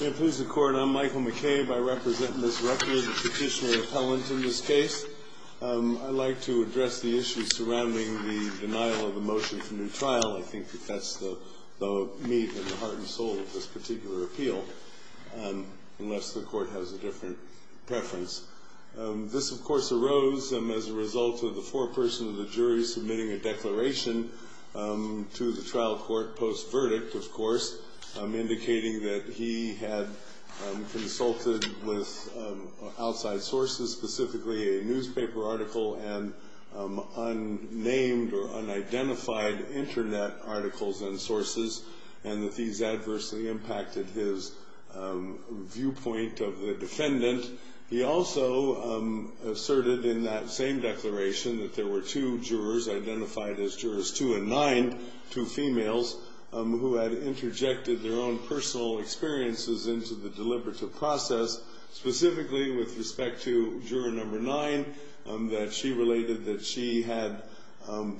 May it please the court, I'm Michael McCabe. I represent Ms. Rucker, the petitioner appellant in this case. I'd like to address the issue surrounding the denial of a motion for new trial. I think that that's the meat and the heart and soul of this particular appeal, unless the court has a different preference. This, of course, arose as a result of the foreperson of the jury submitting a declaration to the trial court post-verdict, of course, indicating that he had consulted with outside sources, specifically a newspaper article and unnamed or unidentified internet articles and sources. And that these adversely impacted his viewpoint of the defendant. He also asserted in that same declaration that there were two jurors, identified as jurors two and nine, two females who had interjected their own personal experiences into the deliberative process. Specifically with respect to juror number nine, that she related that she had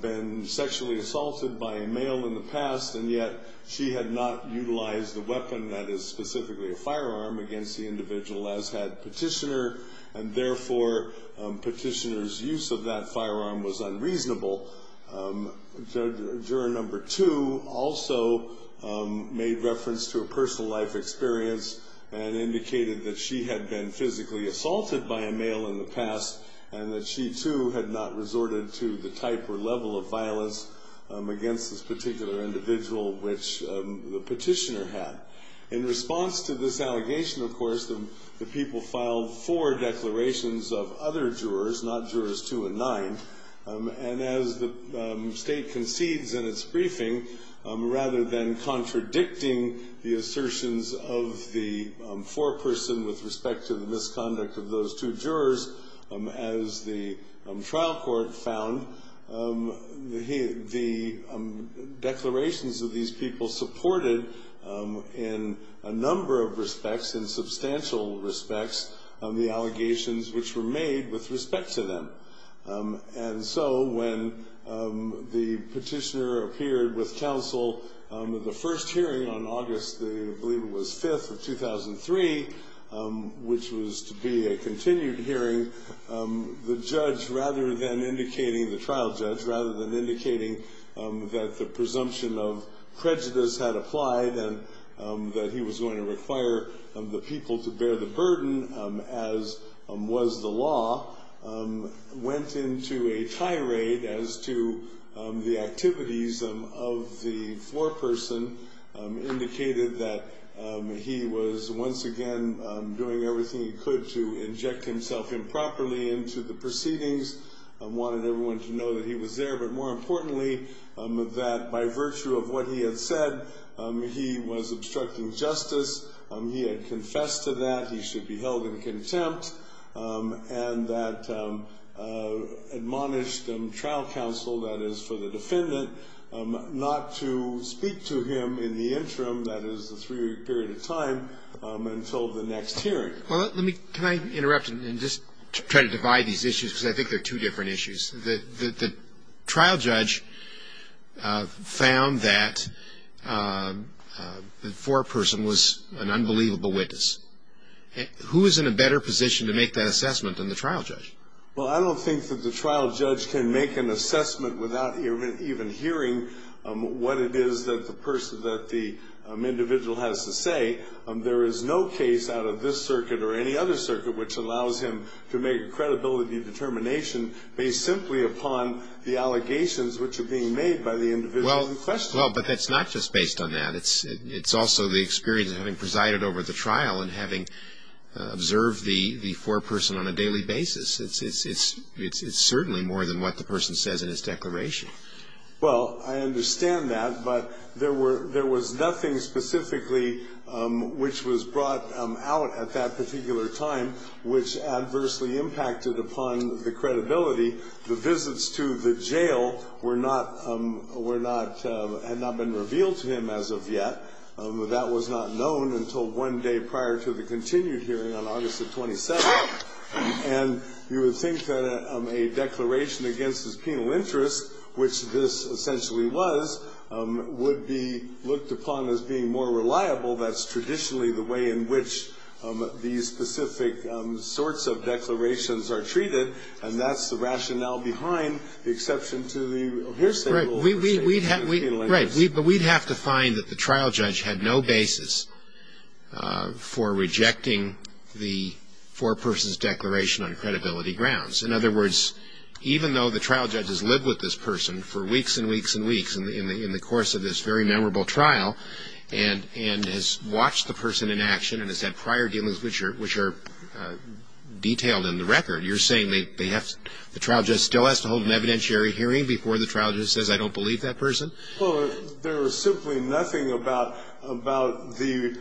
been sexually assaulted by a male in the past. And yet she had not utilized the weapon that is specifically a firearm against the individual as had petitioner. And therefore, petitioner's use of that firearm was unreasonable. Juror number two also made reference to a personal life experience and indicated that she had been physically assaulted by a male in the past. And that she too had not resorted to the type or level of violence against this particular individual which the petitioner had. In response to this allegation, of course, the people filed four declarations of other jurors, not jurors two and nine. And as the state concedes in its briefing, rather than contradicting the assertions of the foreperson with respect to the misconduct of those two jurors, as the trial court found, the declarations of these people supported in a number of respects, in substantial respects, on the allegations which were made with respect to them. And so when the petitioner appeared with counsel at the first hearing on August, I believe it was 5th of 2003, which was to be a continued hearing. The judge, rather than indicating, the trial judge, rather than indicating that the presumption of prejudice had applied and that he was going to require the people to bear the burden as was the law, went into a tirade as to the activities of the foreperson, indicated that he was once again doing everything he could to inject himself improperly into the proceedings. Wanted everyone to know that he was there. But more importantly, that by virtue of what he had said, he was obstructing justice. He had confessed to that. He should be held in contempt. And that admonished trial counsel, that is for the defendant, not to speak to him in the interim, that is the three-week period of time, until the next hearing. Well, let me, can I interrupt and just try to divide these issues, because I think they're two different issues. The trial judge found that the foreperson was an unbelievable witness. Who is in a better position to make that assessment than the trial judge? Well, I don't think that the trial judge can make an assessment without even hearing what it is that the person, that the individual has to say. There is no case out of this circuit or any other circuit which allows him to make credibility determination based simply upon the allegations which are being made by the individual in question. Well, but that's not just based on that. It's also the experience of having presided over the trial and having observed the foreperson on a daily basis. It's certainly more than what the person says in his declaration. Well, I understand that, but there was nothing specifically which was brought out at that particular time which adversely impacted upon the credibility, the visits to the jail had not been revealed to him as of yet. That was not known until one day prior to the continued hearing on August the 27th. And you would think that a declaration against his penal interest, which this essentially was, would be looked upon as being more reliable. That's traditionally the way in which these specific sorts of declarations are treated, and that's the rationale behind the exception to the hearsay rule. Right, but we'd have to find that the trial judge had no basis for rejecting the foreperson's declaration on credibility grounds. In other words, even though the trial judge has lived with this person for weeks and weeks and weeks in the course of this very memorable trial, and has watched the person in action, and has had prior dealings which are detailed in the record, you're saying the trial judge still has to hold an evidentiary hearing before the trial judge says, I don't believe that person? Well, there was simply nothing about the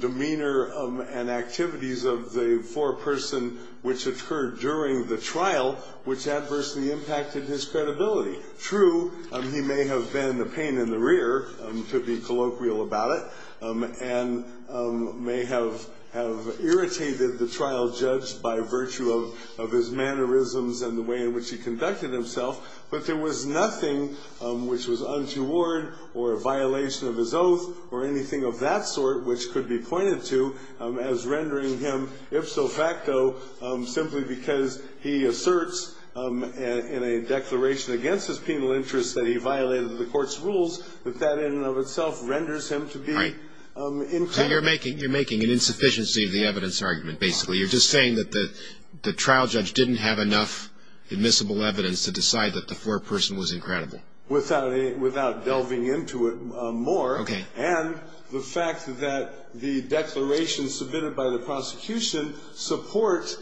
demeanor and activities of the foreperson which occurred during the trial, which adversely impacted his credibility. True, he may have been a pain in the rear, to be colloquial about it, and may have irritated the trial judge by virtue of his mannerisms and the way in which he conducted himself, but there was nothing which was untoward, or a violation of his oath, or anything of that sort, which could be pointed to as rendering him ipso facto, simply because he asserts in a declaration against his penal interest that he violated the court's rules, that that in and of itself renders him to be- Right, so you're making an insufficiency of the evidence argument, basically. You're just saying that the trial judge didn't have enough admissible evidence to decide that the foreperson was incredible. Without delving into it more, and the fact that the declaration submitted by the prosecution supports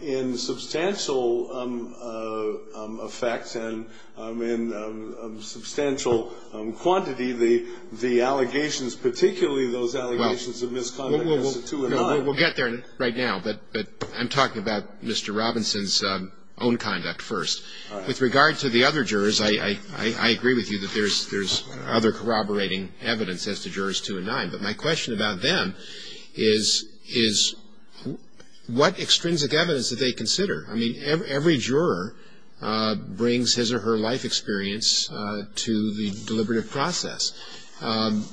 in substantial effects and in substantial quantity the allegations, We'll get there right now, but I'm talking about Mr. Robinson's own conduct first. With regard to the other jurors, I agree with you that there's other corroborating evidence as to jurors two and nine, but my question about them is what extrinsic evidence did they consider? I mean, every juror brings his or her life experience to the deliberative process. And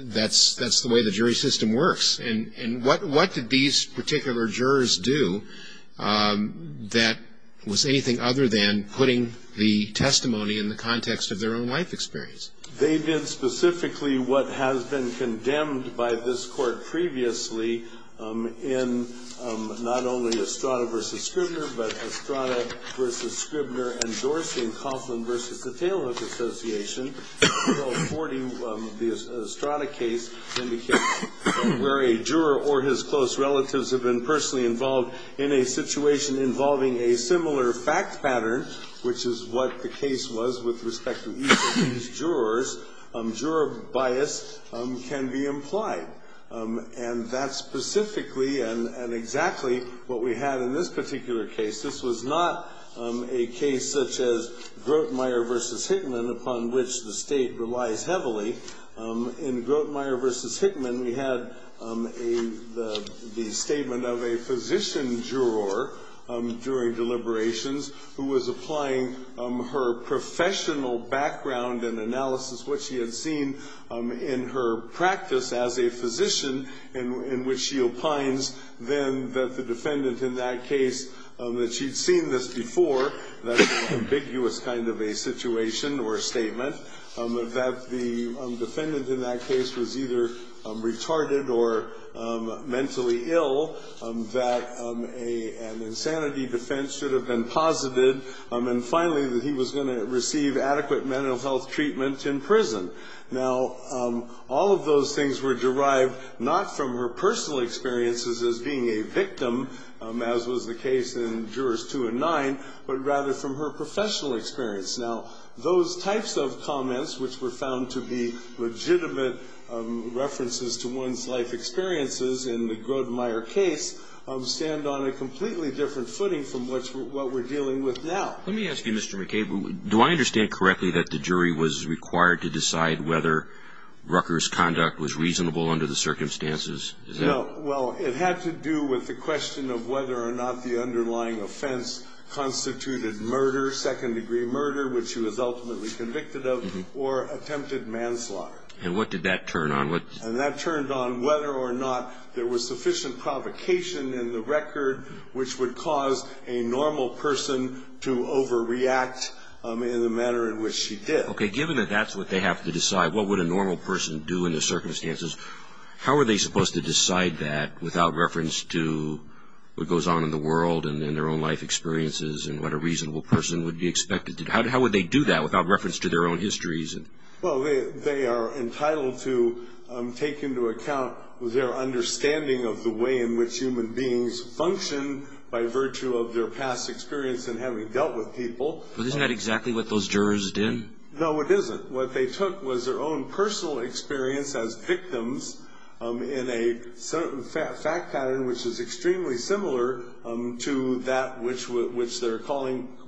that's the way the jury system works. And what did these particular jurors do that was anything other than putting the testimony in the context of their own life experience? They did specifically what has been condemned by this court previously in not only Estrada versus Scribner, but Estrada versus Scribner endorsing the Coughlin versus the Taylor Association, where a juror or his close relatives have been personally involved in a situation involving a similar fact pattern, which is what the case was with respect to each of these jurors, juror bias can be implied. And that's specifically and exactly what we had in this particular case. This was not a case such as Grotemeyer versus Hickman, upon which the state relies heavily. In Grotemeyer versus Hickman, we had the statement of a physician juror during deliberations who was applying her professional background and analysis, what she had seen in her practice as a physician, in which she opines then that the defendant in that case, that she'd seen this before. That's an ambiguous kind of a situation or a statement. That the defendant in that case was either retarded or mentally ill, that an insanity defense should have been posited. And finally, that he was gonna receive adequate mental health treatment in prison. Now, all of those things were derived not from her personal experiences as being a victim, as was the case in jurors two and nine, but rather from her professional experience. Now, those types of comments, which were found to be legitimate references to one's life experiences in the Grotemeyer case, stand on a completely different footing from what we're dealing with now. Let me ask you, Mr. McCabe, do I understand correctly that the jury was required to decide whether Rucker's conduct was reasonable under the circumstances? Is that- Well, it had to do with the question of whether or not the underlying offense constituted murder, second degree murder, which she was ultimately convicted of, or attempted manslaughter. And what did that turn on? And that turned on whether or not there was sufficient provocation in the record which would cause a normal person to overreact in the manner in which she did. Okay, given that that's what they have to decide, what would a normal person do in the circumstances? How are they supposed to decide that without reference to what goes on in the world and in their own life experiences and what a reasonable person would be expected to do? How would they do that without reference to their own histories? Well, they are entitled to take into account their understanding of the way in which human beings function by virtue of their past experience in having dealt with people. But isn't that exactly what those jurors did? No, it isn't. What they took was their own personal experience as victims in a certain fact pattern, which is extremely similar to that which they're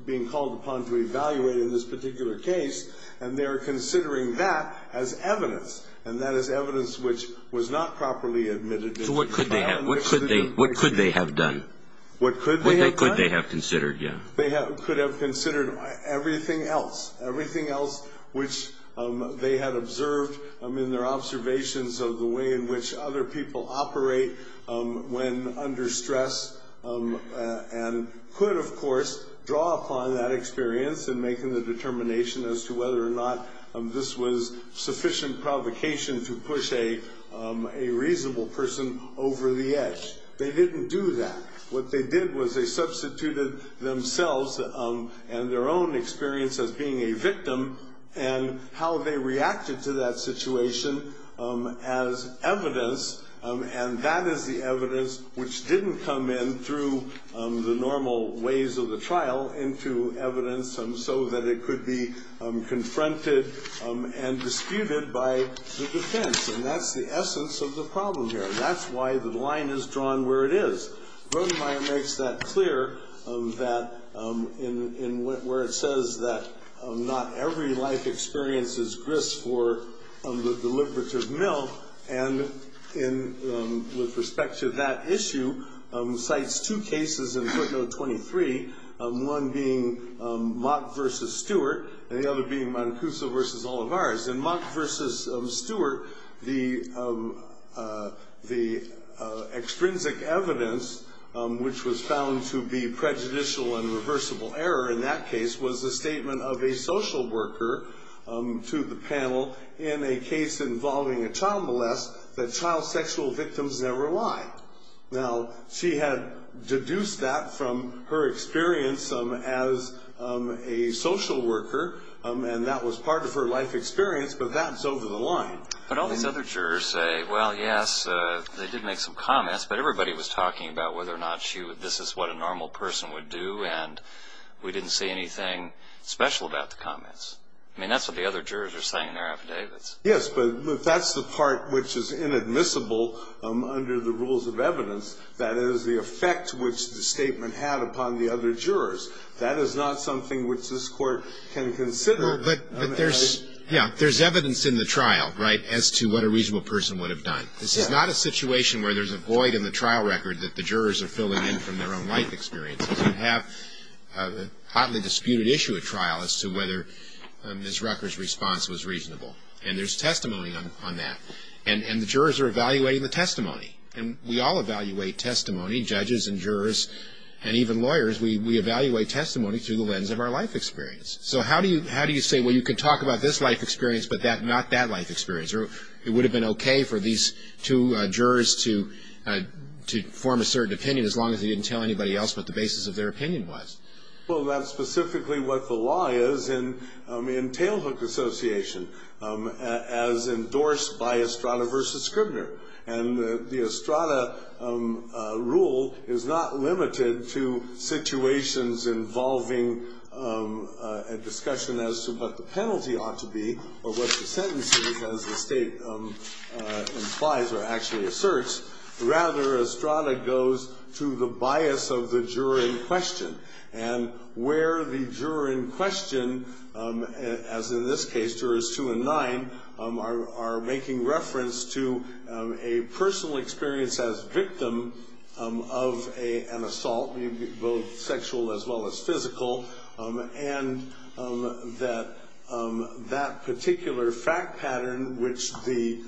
being called upon to evaluate in this particular case. And they're considering that as evidence. And that is evidence which was not properly admitted. So what could they have done? What could they have done? What could they have considered, yeah. They could have considered everything else, everything else which they had observed in their observations of the way in which other people operate when under stress and could, of course, draw upon that experience in making the determination as to whether or not this was sufficient provocation to push a reasonable person over the edge. They didn't do that. What they did was they substituted themselves and their own experience as being a victim and how they reacted to that situation as evidence. And that is the evidence which didn't come in through the normal ways of the trial into evidence so that it could be confronted and that's the essence of the problem here. That's why the line is drawn where it is. Votenmaier makes that clear that in where it says that not every life experience is grist for the deliberative mill. And with respect to that issue, cites two cases in footnote 23. One being Mott versus Stewart and the other being Mancuso versus Olivares. In Mott versus Stewart, the extrinsic evidence, which was found to be prejudicial and reversible error in that case, was the statement of a social worker to the panel in a case involving a child molest that child sexual victims never lie. Now, she had deduced that from her experience as a social worker, and that was part of her life experience, but that's over the line. But all these other jurors say, well, yes, they did make some comments, but everybody was talking about whether or not this is what a normal person would do, and we didn't see anything special about the comments. I mean, that's what the other jurors are saying in their affidavits. Yes, but that's the part which is inadmissible under the rules of evidence. That is the effect which the statement had upon the other jurors. That is not something which this court can consider. But there's, yeah, there's evidence in the trial, right, as to what a reasonable person would have done. This is not a situation where there's a void in the trial record that the jurors are filling in from their own life experiences and have a hotly disputed issue at trial as to whether Ms. Rucker's response was reasonable. And there's testimony on that. And the jurors are evaluating the testimony. And we all evaluate testimony, judges and jurors and even lawyers. We evaluate testimony through the lens of our life experience. So how do you say, well, you can talk about this life experience, but not that life experience? Or it would have been okay for these two jurors to form a certain opinion, as long as they didn't tell anybody else what the basis of their opinion was? Well, that's specifically what the law is in tailhook association, as endorsed by Estrada versus Scribner. And the Estrada rule is not limited to situations involving a discussion as to what the penalty ought to be or what the sentence is, as the state implies or actually asserts. Rather, Estrada goes to the bias of the juror in question. And where the juror in question, as in this case, jurors two and nine, are making reference to a personal experience as victim of an assault, both sexual as well as physical. And that particular fact pattern, which the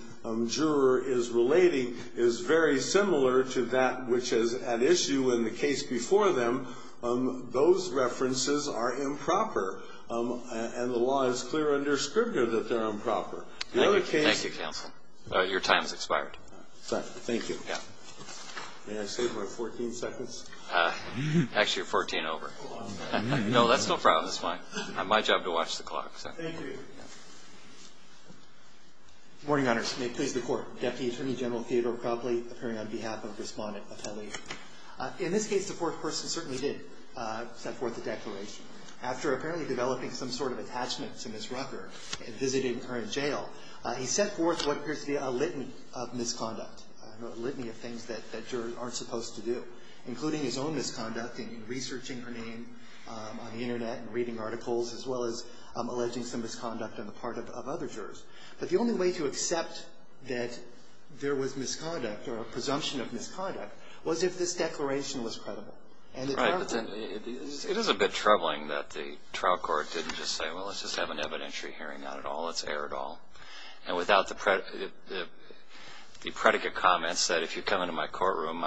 juror is relating, is very similar to that, which is at issue in the case before them. Those references are improper. And the law is clear under Scribner that they're improper. The other case- Thank you, counsel. Your time's expired. Thank you. Yeah. May I save my 14 seconds? Actually, you're 14 over. No, that's no problem. That's fine. My job to watch the clock. Thank you. Morning, honors. May it please the Court. Deputy Attorney General Theodore Copley, appearing on behalf of Respondent Atelier. In this case, the fourth person certainly did set forth a declaration. After apparently developing some sort of attachment to Ms. Rucker and visiting her in jail, he set forth what appears to be a litany of misconduct. A litany of things that jurors aren't supposed to do, including his own misconduct in researching her name on the internet and reading articles, as well as alleging some misconduct on the part of other jurors. But the only way to accept that there was misconduct or a presumption of misconduct was if this declaration was credible. Right, but then it is a bit troubling that the trial court didn't just say, well, let's just have an evidentiary hearing, not at all, let's err at all. And without the predicate comments that if you come into my courtroom,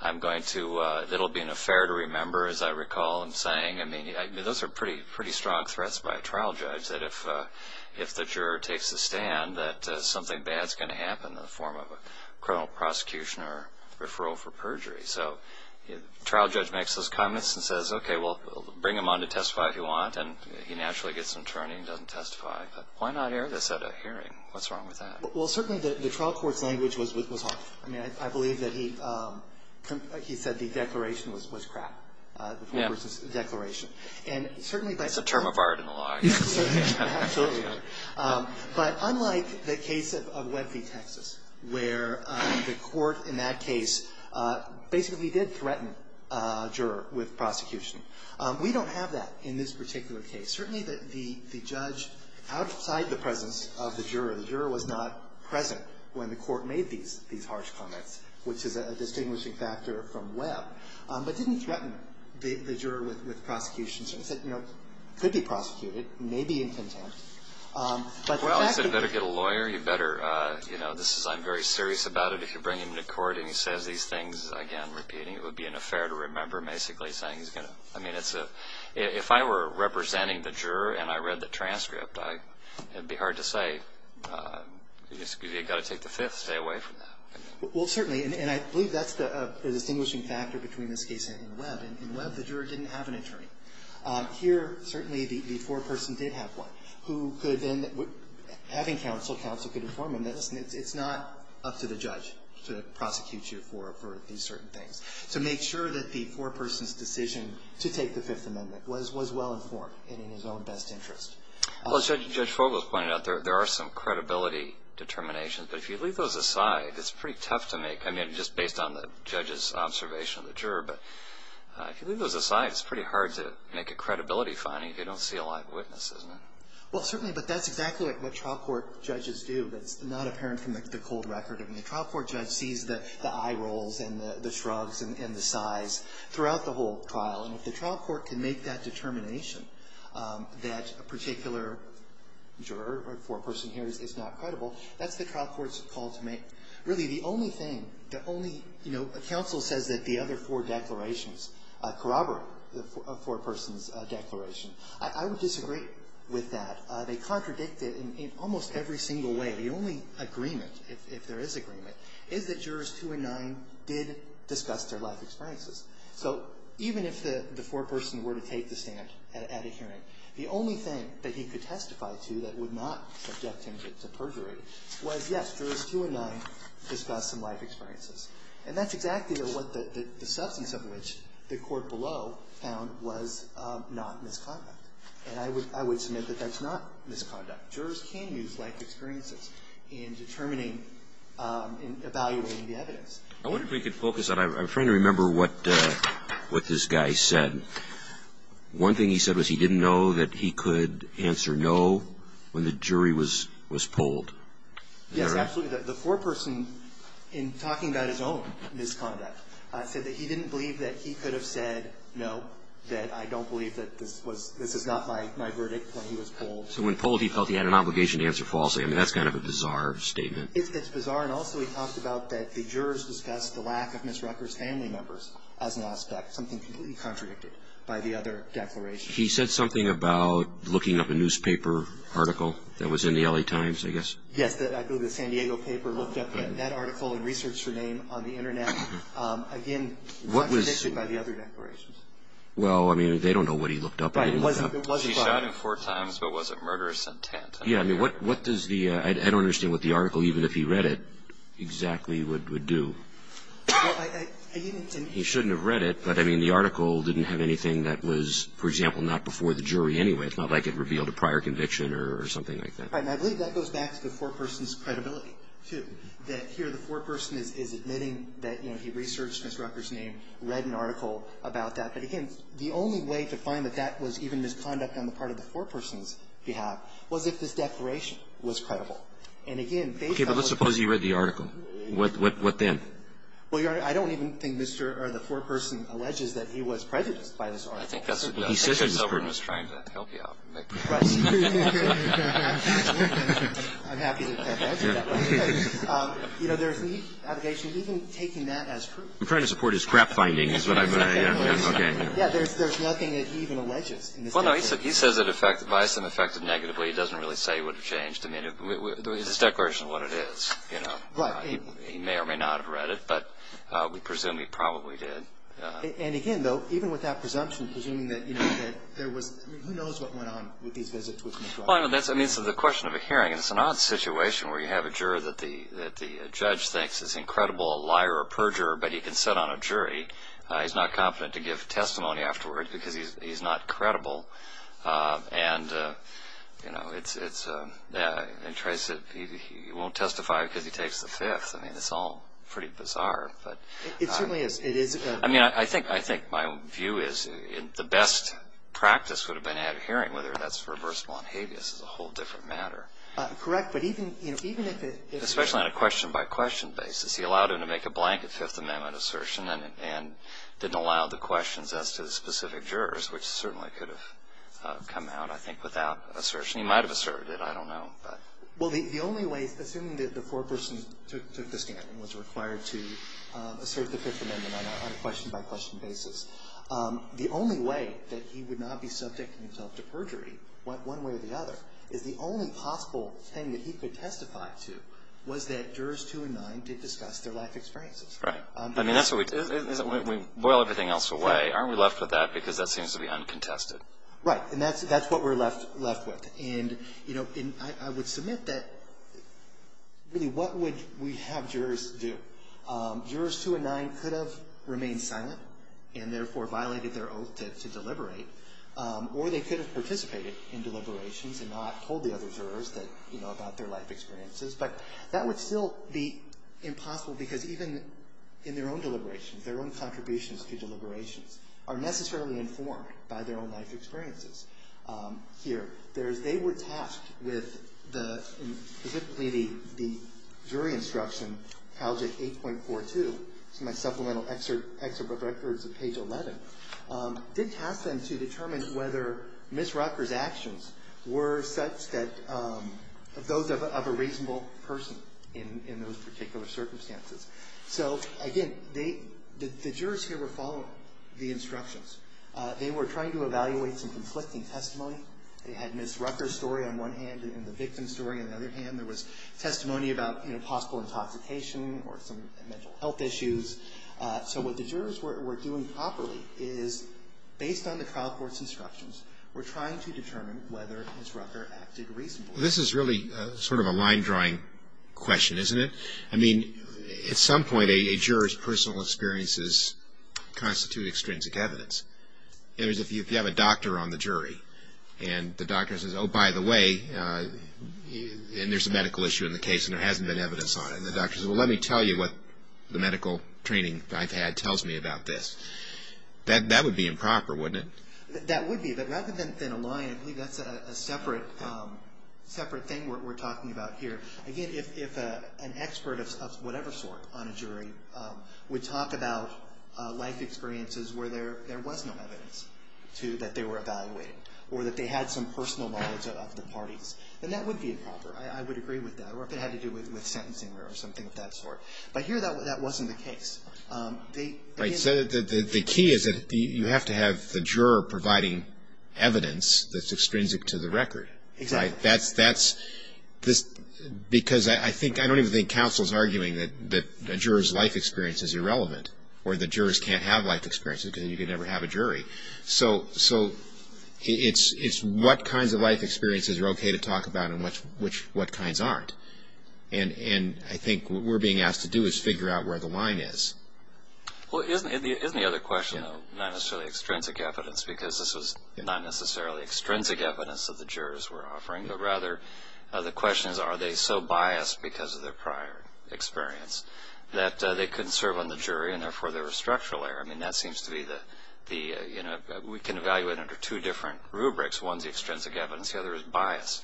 I'm going to, it'll be an affair to remember, as I recall him saying. I mean, those are pretty strong threats by a trial judge, that if the juror takes a stand that something bad's going to happen in the form of a criminal prosecution or referral for perjury. So, trial judge makes those comments and says, okay, well, bring him on to testify if you want, and he naturally gets an attorney and doesn't testify, but why not air this at a hearing? What's wrong with that? Well, certainly the trial court's language was off. I mean, I believe that he said the declaration was crap. Yeah. Declaration. And certainly by- It's a term of art in the law. Yeah, absolutely. But unlike the case of Webby, Texas, where the court in that case basically did threaten a juror with prosecution. We don't have that in this particular case. Certainly the judge, outside the presence of the juror, the juror was not present when the court made these harsh comments, which is a distinguishing factor from Webb, but didn't threaten the juror with prosecution. So he said, you know, could be prosecuted, may be in contempt, but the fact that- Well, he said, you better get a lawyer. You better, you know, this is, I'm very serious about it. If you bring him to court and he says these things again, repeating, it would be an affair to remember, basically saying he's going to, I mean, it's a, if I were representing the juror and I read the transcript, I, it'd be hard to say, excuse me, you've got to take the fifth, stay away from that. Well, certainly, and I believe that's the distinguishing factor between this case and Webb. In Webb, the juror didn't have an attorney. Here, certainly the foreperson did have one, who could then, having counsel, could inform him that, listen, it's not up to the judge to prosecute you for these certain things. So make sure that the foreperson's decision to take the Fifth Amendment was well informed and in his own best interest. Well, as Judge Fogel pointed out, there are some credibility determinations, but if you leave those aside, it's pretty tough to make, I mean, just based on the judge's observation of the juror, but if you leave those aside, it's pretty hard to make a credibility finding if you don't see a live witness, isn't it? Well, certainly, but that's exactly what trial court judges do. That's not apparent from the cold record. I mean, the trial court judge sees the eye rolls and the shrugs and the sighs throughout the whole trial, and if the trial court can make that determination that a particular juror or foreperson here is not credible, that's the trial court's call to make. Really, the only thing, the only, you know, counsel says that the other four declarations corroborate a foreperson's declaration. I would disagree with that. They contradict it in almost every single way. The only agreement, if there is agreement, is that jurors two and nine did discuss their life experiences. So even if the foreperson were to take the stand at a hearing, the only thing that he could testify to that would not subject him to perjury was, yes, jurors two and nine discussed some life experiences, and that's exactly what the substance of which the court below found was not misconduct. And I would submit that that's not misconduct. Jurors can use life experiences in determining, in evaluating the evidence. I wonder if we could focus on, I'm trying to remember what this guy said. One thing he said was he didn't know that he could answer no when the jury was polled. Yes, absolutely. The foreperson, in talking about his own misconduct, said that he didn't believe that he could have said no, that I don't believe that this was, this is not my verdict when he was polled. So when polled, he felt he had an obligation to answer falsely. I mean, that's kind of a bizarre statement. It's bizarre, and also he talked about that the jurors discussed the lack of Ms. Rucker's family members as an aspect, something completely contradicted by the other declaration. He said something about looking up a newspaper article that was in the LA Times, I guess. Yes, I believe the San Diego paper looked up that article and researched her name on the internet. Again, contradiction by the other declarations. Well, I mean, they don't know what he looked up. He shot him four times, but was it murderous intent? Yeah, I mean, what does the, I don't understand what the article, even if he read it, exactly would do. He shouldn't have read it, but I mean, the article didn't have anything that was, for example, not before the jury anyway. It's not like it revealed a prior conviction or something like that. Right, and I believe that goes back to the foreperson's credibility, too. That here, the foreperson is admitting that he researched Ms. Rucker's name, read an article about that. But again, the only way to find that that was even misconduct on the part of the foreperson's behalf was if this declaration was credible. And again, based on- Okay, but let's suppose he read the article. What then? Well, Your Honor, I don't even think Mr., or the foreperson alleges that he was prejudiced by this article. I think that's a good- He says he's prejudiced. I think that's what he was trying to help you out. Right. I'm happy that that answered that question. You know, there's the allegation of even taking that as proof. I'm trying to support his crap finding is what I'm- Exactly. Yeah, okay. Yeah, there's nothing that he even alleges in this case. Well, no, he says it affected by some affected negatively. He doesn't really say it would have changed. I mean, it's a declaration of what it is, you know. Right. He may or may not have read it, but we presume he probably did. And again, though, even with that presumption, presuming that, you know, that there was, I mean, who knows what went on with these visits with Mr. O'Connor. Well, I mean, that's, I mean, so the question of a hearing, it's an odd situation where you have a juror that the, that the judge thinks is incredible, a liar, a perjurer, but he can sit on a jury. He's not confident to give testimony afterward because he's, he's not credible. And you know, it's, it's yeah, it tries to, he, he won't testify because he takes the fifth, I mean, it's all pretty bizarre, but- It certainly is, it is- I mean, I think, I think my view is the best practice would have been at a hearing, whether that's reversible on habeas is a whole different matter. Correct, but even, you know, even if it- Especially on a question-by-question basis. He allowed him to make a blanket Fifth Amendment assertion and, and didn't allow the questions as to the specific jurors, which certainly could have come out, I think, without assertion. He might have asserted it, I don't know, but- Well, the, the only way, assuming that the foreperson took, took the stand and was required to assert the Fifth Amendment on a question-by-question basis. The only way that he would not be subjecting himself to perjury, one way or the other, is the only possible thing that he could testify to was that jurors two and nine did discuss their life experiences. Right. I mean, that's what we, we boil everything else away. Aren't we left with that because that seems to be uncontested. Right, and that's, that's what we're left, left with. And, you know, and I, I would submit that really what would we have jurors do? Jurors two and nine could have remained silent and, therefore, violated their oath to, to deliberate. Or they could have participated in deliberations and not told the other jurors that, you know, about their life experiences. But that would still be impossible because even in their own deliberations, their own contributions to deliberations, are necessarily informed by their own life experiences. Here, there's, they were tasked with the, specifically the, the jury instruction, page 8.42, it's in my supplemental excerpt, excerpt of records at page 11. Did task them to determine whether Ms. Rucker's actions were such that those of, of a reasonable person in, in those particular circumstances. So, again, they, the, the jurors here were following the instructions. They were trying to evaluate some conflicting testimony. They had Ms. Rucker in their hand, there was testimony about, you know, possible intoxication or some mental health issues. So what the jurors were, were doing properly is, based on the trial court's instructions, we're trying to determine whether Ms. Rucker acted reasonably. This is really sort of a line drawing question, isn't it? I mean, at some point a, a juror's personal experiences constitute extrinsic evidence. In other words, if you, if you have a doctor on the jury, and the doctor says, oh, by the way, and there's a medical issue in the case, and there hasn't been evidence on it, and the doctor says, well, let me tell you what the medical training I've had tells me about this. That, that would be improper, wouldn't it? That would be, but rather than, than a lie, I believe that's a, a separate, separate thing we're, we're talking about here. Again, if, if an expert of, of whatever sort on a jury would talk about life experiences where there, there was no evidence to, that they were evaluating. Or that they had some personal knowledge of, of the parties, then that would be improper, I, I would agree with that. Or if it had to do with, with sentencing or something of that sort. But here, that, that wasn't the case. They, again. Right, so the, the, the key is that the, you have to have the juror providing evidence that's extrinsic to the record. Exactly. That's, that's, this, because I, I think, I don't even think counsel's arguing that, that a juror's life experience is irrelevant. Or the jurors can't have life experiences because you can never have a jury. So, so, it's, it's what kinds of life experiences are okay to talk about and what's, which, what kinds aren't. And, and I think what we're being asked to do is figure out where the line is. Well isn't, isn't the other question though, not necessarily extrinsic evidence because this was not necessarily extrinsic evidence that the jurors were offering. But rather the question is are they so biased because of their prior experience that they couldn't serve on the jury and therefore they were structural error. I mean, that seems to be the, the, you know, we can evaluate under two different rubrics, one's extrinsic evidence, the other is bias.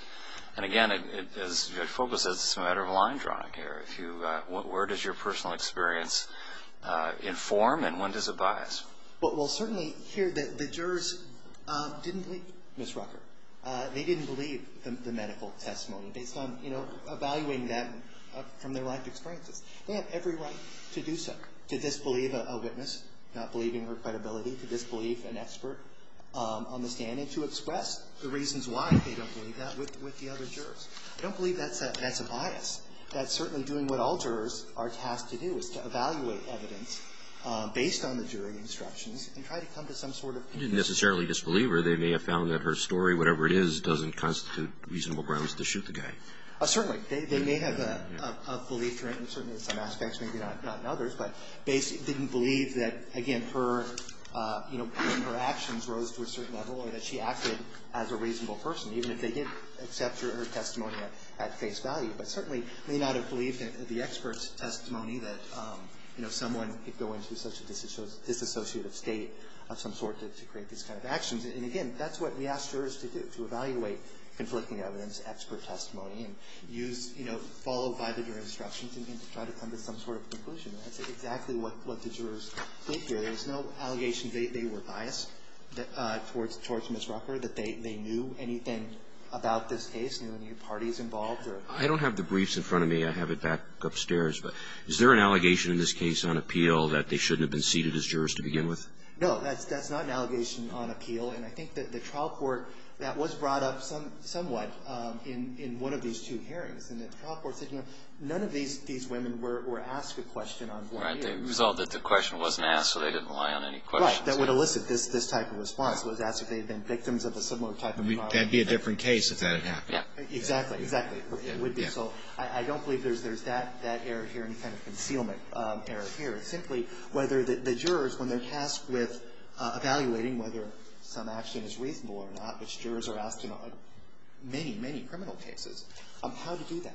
And again, it, it is, it focuses, it's a matter of line drawing here. If you, where does your personal experience inform and when does it bias? But we'll certainly hear that the jurors didn't believe Ms. Rucker. They didn't believe the, the medical testimony based on, you know, evaluating that from their life experiences. They have every right to do so, to disbelieve a witness, not believing her credibility, to disbelieve an expert on the stand and to express the reasons why they don't believe that with, with the other jurors. I don't believe that's a, that's a bias. That certainly doing what all jurors are tasked to do is to evaluate evidence based on the jury instructions and try to come to some sort of. You didn't necessarily disbelieve her. They may have found that her story, whatever it is, doesn't constitute reasonable grounds to shoot the guy. Certainly, they, they may have a, a, a belief, certainly in some aspects, maybe not, not in others, but they didn't believe that, again, her, you know, her actions rose to a certain level or that she acted as a reasonable person, even if they did accept her, her testimony at, at face value. But certainly may not have believed in the expert's testimony that, you know, someone could go into such a disassociative state of some sort to, to create these kind of actions. And again, that's what we ask jurors to do, to evaluate conflicting evidence, expert testimony, and use, you know, followed by the jury instructions, and then to try to come to some sort of conclusion. And that's exactly what, what the jurors did here. There's no allegation they, they were biased towards, towards Ms. Rucker, that they, they knew anything about this case, knew any parties involved, or. I don't have the briefs in front of me. I have it back upstairs. But is there an allegation in this case on appeal that they shouldn't have been seated as jurors to begin with? No, that's, that's not an allegation on appeal. And I think that the trial court, that was brought up some, somewhat in, in one of these two hearings. And the trial court said, you know, none of these, these women were, were asked a question on board here. Right. They resolved that the question wasn't asked, so they didn't rely on any questions. Right. That would elicit this, this type of response, was asked if they had been victims of a similar type of trial. That'd be a different case if that had happened. Yeah. Exactly, exactly. It would be. So I, I don't believe there's, there's that, that error here, any kind of concealment error here. Simply, whether the, the jurors, when they're tasked with evaluating whether some action is reasonable or not, which jurors are asked to know in many, many criminal cases, how to do that.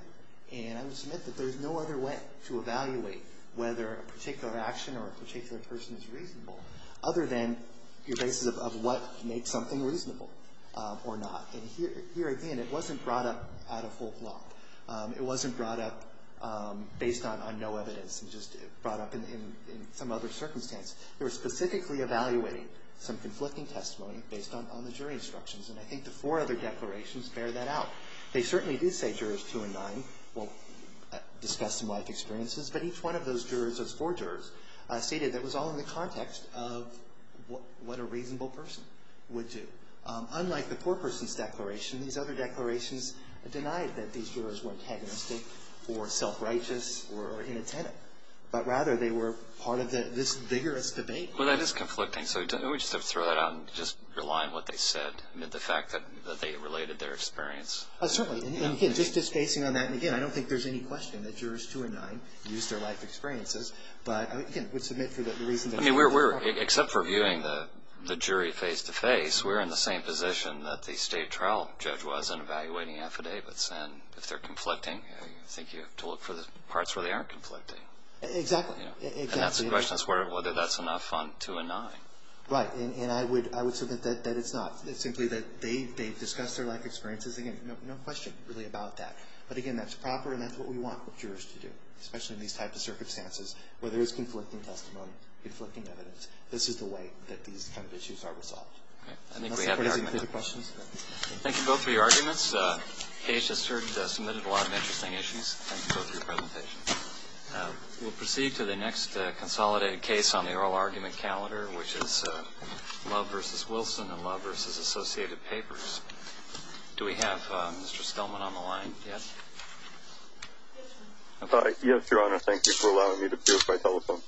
And I would submit that there's no other way to evaluate whether a particular action or a particular person is reasonable, other than your basis of, of what makes something reasonable or not. And here, here again, it wasn't brought up out of whole block. It wasn't brought up based on, on no evidence. It was just brought up in, in, in some other circumstance. They were specifically evaluating some conflicting testimony based on, on the jury instructions. And I think the four other declarations bear that out. They certainly do say jurors two and nine will discuss some life experiences. But each one of those jurors, those four jurors stated that it was all in the context of what, what a reasonable person would do. Unlike the poor person's declaration, these other declarations denied that these jurors were antagonistic or self-righteous or, or inattentive. But rather, they were part of the, this vigorous debate. Well, that is conflicting. So we don't, we just have to throw that out and just rely on what they said. I mean, the fact that, that they related their experience. Certainly, and again, just, just basing on that, and again, I don't think there's any question that jurors two and nine used their life experiences. But, I mean, again, we submit for the, the reason that. I mean, we're, we're, except for viewing the, the jury face to face, we're in the same position that the state trial judge was in evaluating affidavits. And if they're conflicting, I think you have to look for the parts where they aren't conflicting. Exactly. And that's the question, whether that's enough fun to deny. Right, and I would, I would submit that, that it's not. It's simply that they, they've discussed their life experiences. Again, no, no question really about that. But again, that's proper, and that's what we want jurors to do. Especially in these types of circumstances, whether it's conflicting testimony, conflicting evidence. This is the way that these kind of issues are resolved. I think we have the argument. Any further questions? Thank you both for your arguments. This case has heard, submitted a lot of interesting issues. Thank you both for your presentation. We'll proceed to the next consolidated case on the oral argument calendar, which is Love versus Wilson and Love versus Associated Papers. Do we have Mr. Stelman on the line yet? Yes, your honor, thank you for allowing me to be here by telephone.